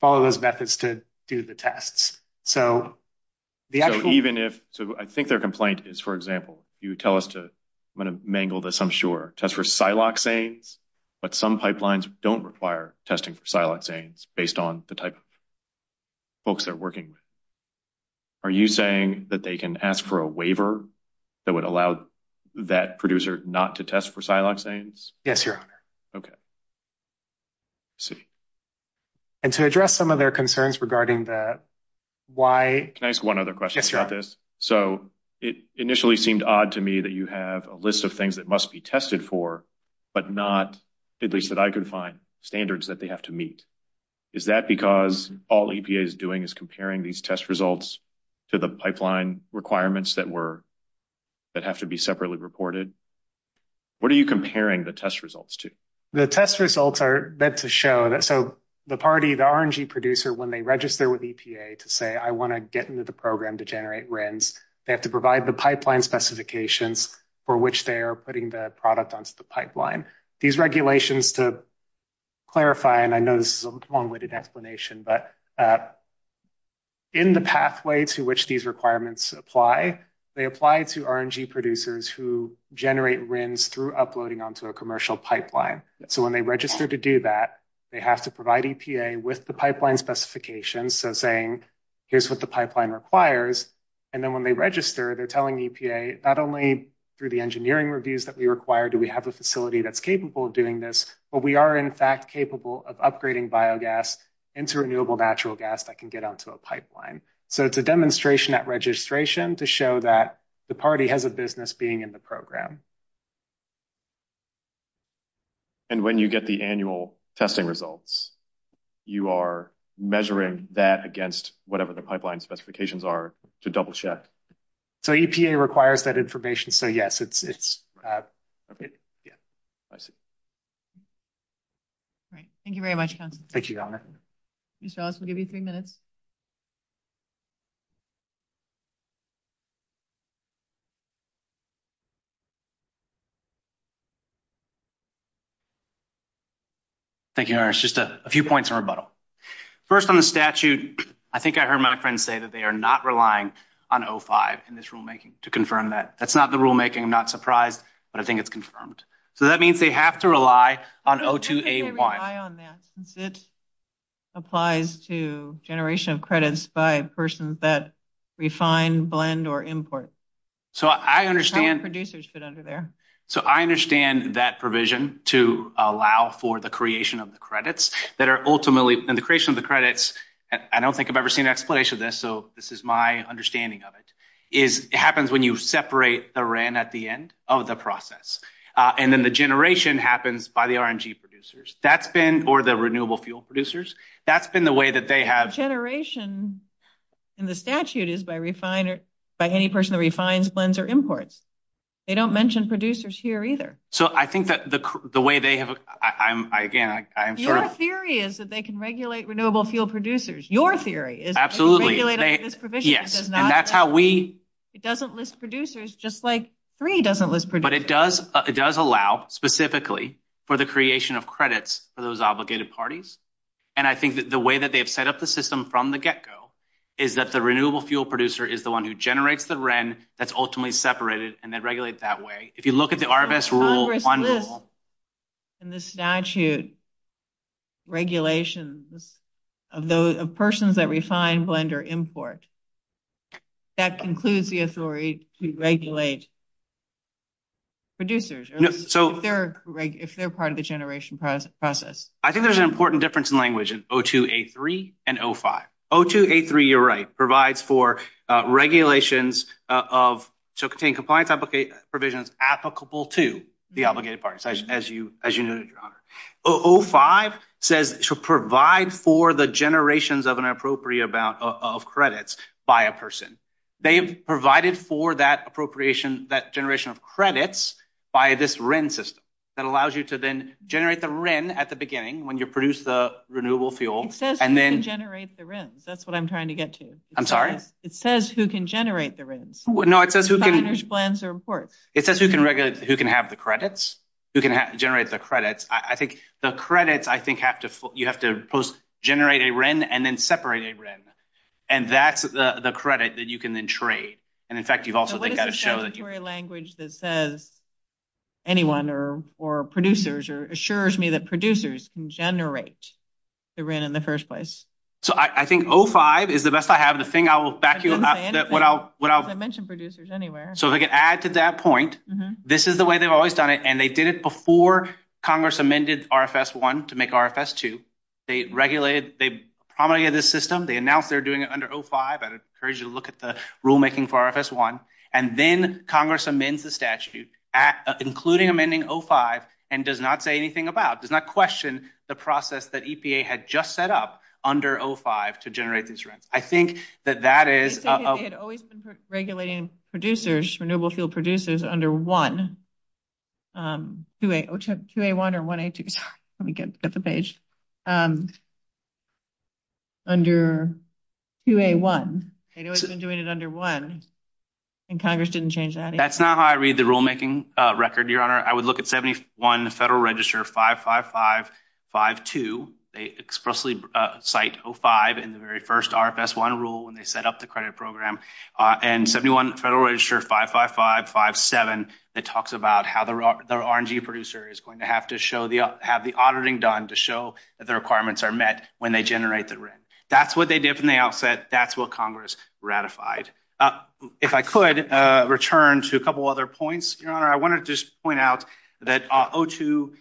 follow those methods to do the tests. So, even if so, I think their complaint is, for example, you tell us to I'm going to mangle this. I'm sure test for siloxanes. But some pipelines don't require testing for siloxanes based on the type of folks they're working with. Are you saying that they can ask for a waiver that would allow that producer not to test for siloxanes? Yes, your honor. Okay. See. And to address some of their concerns regarding that. Why can I ask one other question about this? So, it initially seemed odd to me that you have a list of things that must be tested for, but not at least that I could find standards that they have to meet. Is that because all EPA is doing is comparing these test results to the pipeline requirements that were that have to be separately reported? What are you comparing the test results to? The test results are meant to show that. So, the party, the RNG producer, when they register with EPA to say, I want to get into the program to generate RINs, they have to provide the pipeline specifications for which they are putting the product onto the pipeline. These regulations, to clarify, and I know this is a long-winded explanation, but in the pathway to which these requirements apply, they apply to RNG producers who generate RINs through uploading onto a commercial pipeline. So, when they register to do that, they have to provide EPA with the pipeline specifications, so saying, here's what the pipeline requires. And then when they register, they're telling EPA, not only through the engineering reviews that we require do we have a facility that's capable of doing this, but we are, in fact, capable of upgrading biogas into renewable natural gas that can get onto a pipeline. So, it's a demonstration at registration to show that the party has a business being in the program. And when you get the annual testing results, you are measuring that against whatever the pipeline specifications are to double-check? So, EPA requires that information. So, yes, it's. Yeah, I see. All right. Thank you very much, Councilor. Thank you, Governor. Mr. Ellis, we'll give you three minutes. Thank you, Governor. Just a few points in rebuttal. First, on the statute, I think I heard my friend say that they are not relying on O5 in this rulemaking to confirm that. That's not the rulemaking. I'm not surprised, but I think it's confirmed. So, that means they have to rely on O2A1. How can they rely on that since it applies to generation of credits by persons that refine, blend, or import? So, I understand. How would producers fit under there? So, I understand that provision to allow for the creation of the credits that are ultimately – and the creation of the credits, I don't think I've ever seen an explanation of this, so this is my understanding of it, is it happens when you separate the REN at the end of the process. And then the generation happens by the RNG producers. That's been – or the renewable fuel producers. That's been the way that they have – Generation in the statute is by any person that refines, blends, or imports. They don't mention producers here either. So, I think that the way they have – again, I'm sort of – Your theory is that they can regulate renewable fuel producers. Your theory is – Absolutely. Yes, and that's how we – It doesn't list producers just like 3 doesn't list producers. But it does allow specifically for the creation of credits for those obligated parties. And I think that the way that they have set up the system from the get-go is that the renewable fuel producer is the one who generates the REN that's ultimately separated, and they regulate it that way. Congress lists in the statute regulations of persons that refine, blend, or import. That concludes the authority to regulate producers if they're part of the generation process. I think there's an important difference in language in O2A3 and O5. O2A3, you're right, provides for regulations of – so, contain compliance applications applicable to the obligated parties, as you noted, Your Honor. O5 says to provide for the generations of an appropriate amount of credits by a person. They have provided for that appropriation – that generation of credits by this REN system. That allows you to then generate the REN at the beginning when you produce the renewable fuel. It says who can generate the RENs. That's what I'm trying to get to. I'm sorry? It says who can generate the RENs. No, it says who can – Refiners, blends, or imports. It says who can have the credits, who can generate the credits. I think the credits, I think, have to – you have to generate a REN and then separate a REN. And that's the credit that you can then trade. What is the statutory language that says anyone or producers or assures me that producers can generate the REN in the first place? So, I think O5 is the best I have. The thing I will – I didn't say anything. I didn't mention producers anywhere. So, if I can add to that point, this is the way they've always done it. And they did it before Congress amended RFS 1 to make RFS 2. They regulated – they promulgated this system. They announced they're doing it under O5. I'd encourage you to look at the rulemaking for RFS 1. And then Congress amends the statute, including amending O5, and does not say anything about – does not question the process that EPA had just set up under O5 to generate these RENs. I think that that is – They said they had always been regulating producers, renewable fuel producers, under 1. 2A1 or 1A2. Let me get the page. Under 2A1. They've always been doing it under 1, and Congress didn't change that either. That's not how I read the rulemaking record, Your Honor. I would look at 71 Federal Register 55552. They expressly cite O5 in the very first RFS 1 rule when they set up the credit program. And 71 Federal Register 55557, that talks about how the R&G producer is going to have to show the – have the auditing done to show that the requirements are met when they generate the REN. That's what they did from the outset. That's what Congress ratified. If I could return to a couple other points, Your Honor. I wanted to just point out that O2A1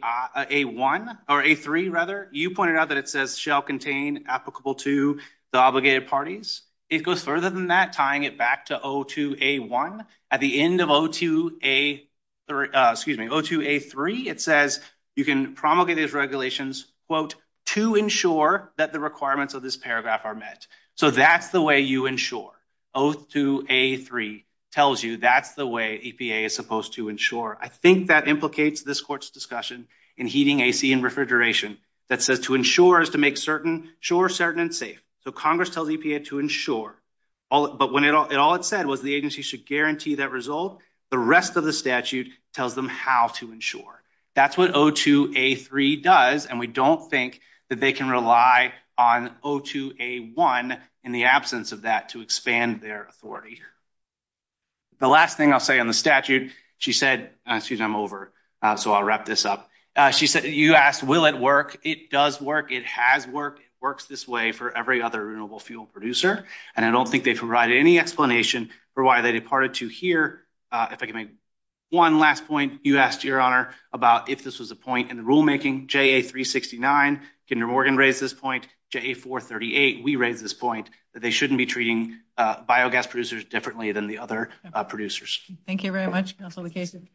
– or A3, rather. You pointed out that it says shall contain applicable to the obligated parties. It goes further than that, tying it back to O2A1. At the end of O2A3, it says you can promulgate these regulations, quote, to ensure that the requirements of this paragraph are met. So that's the way you ensure. O2A3 tells you that's the way EPA is supposed to ensure. I think that implicates this Court's discussion in heating, AC, and refrigeration that says to ensure is to make sure certain and safe. So Congress tells EPA to ensure. But when all it said was the agency should guarantee that result, the rest of the statute tells them how to ensure. That's what O2A3 does, and we don't think that they can rely on O2A1 in the absence of that to expand their authority. The last thing I'll say on the statute, she said – excuse me, I'm over, so I'll wrap this up. She said – you asked will it work. It does work. It has worked. It works this way for every other renewable fuel producer, and I don't think they've provided any explanation for why they departed to here. If I can make one last point, you asked, Your Honor, about if this was a point in the rulemaking. JA369, Kinder Morgan raised this point. JA438, we raised this point, that they shouldn't be treating biogas producers differently than the other producers. Thank you very much, Counselor Casey.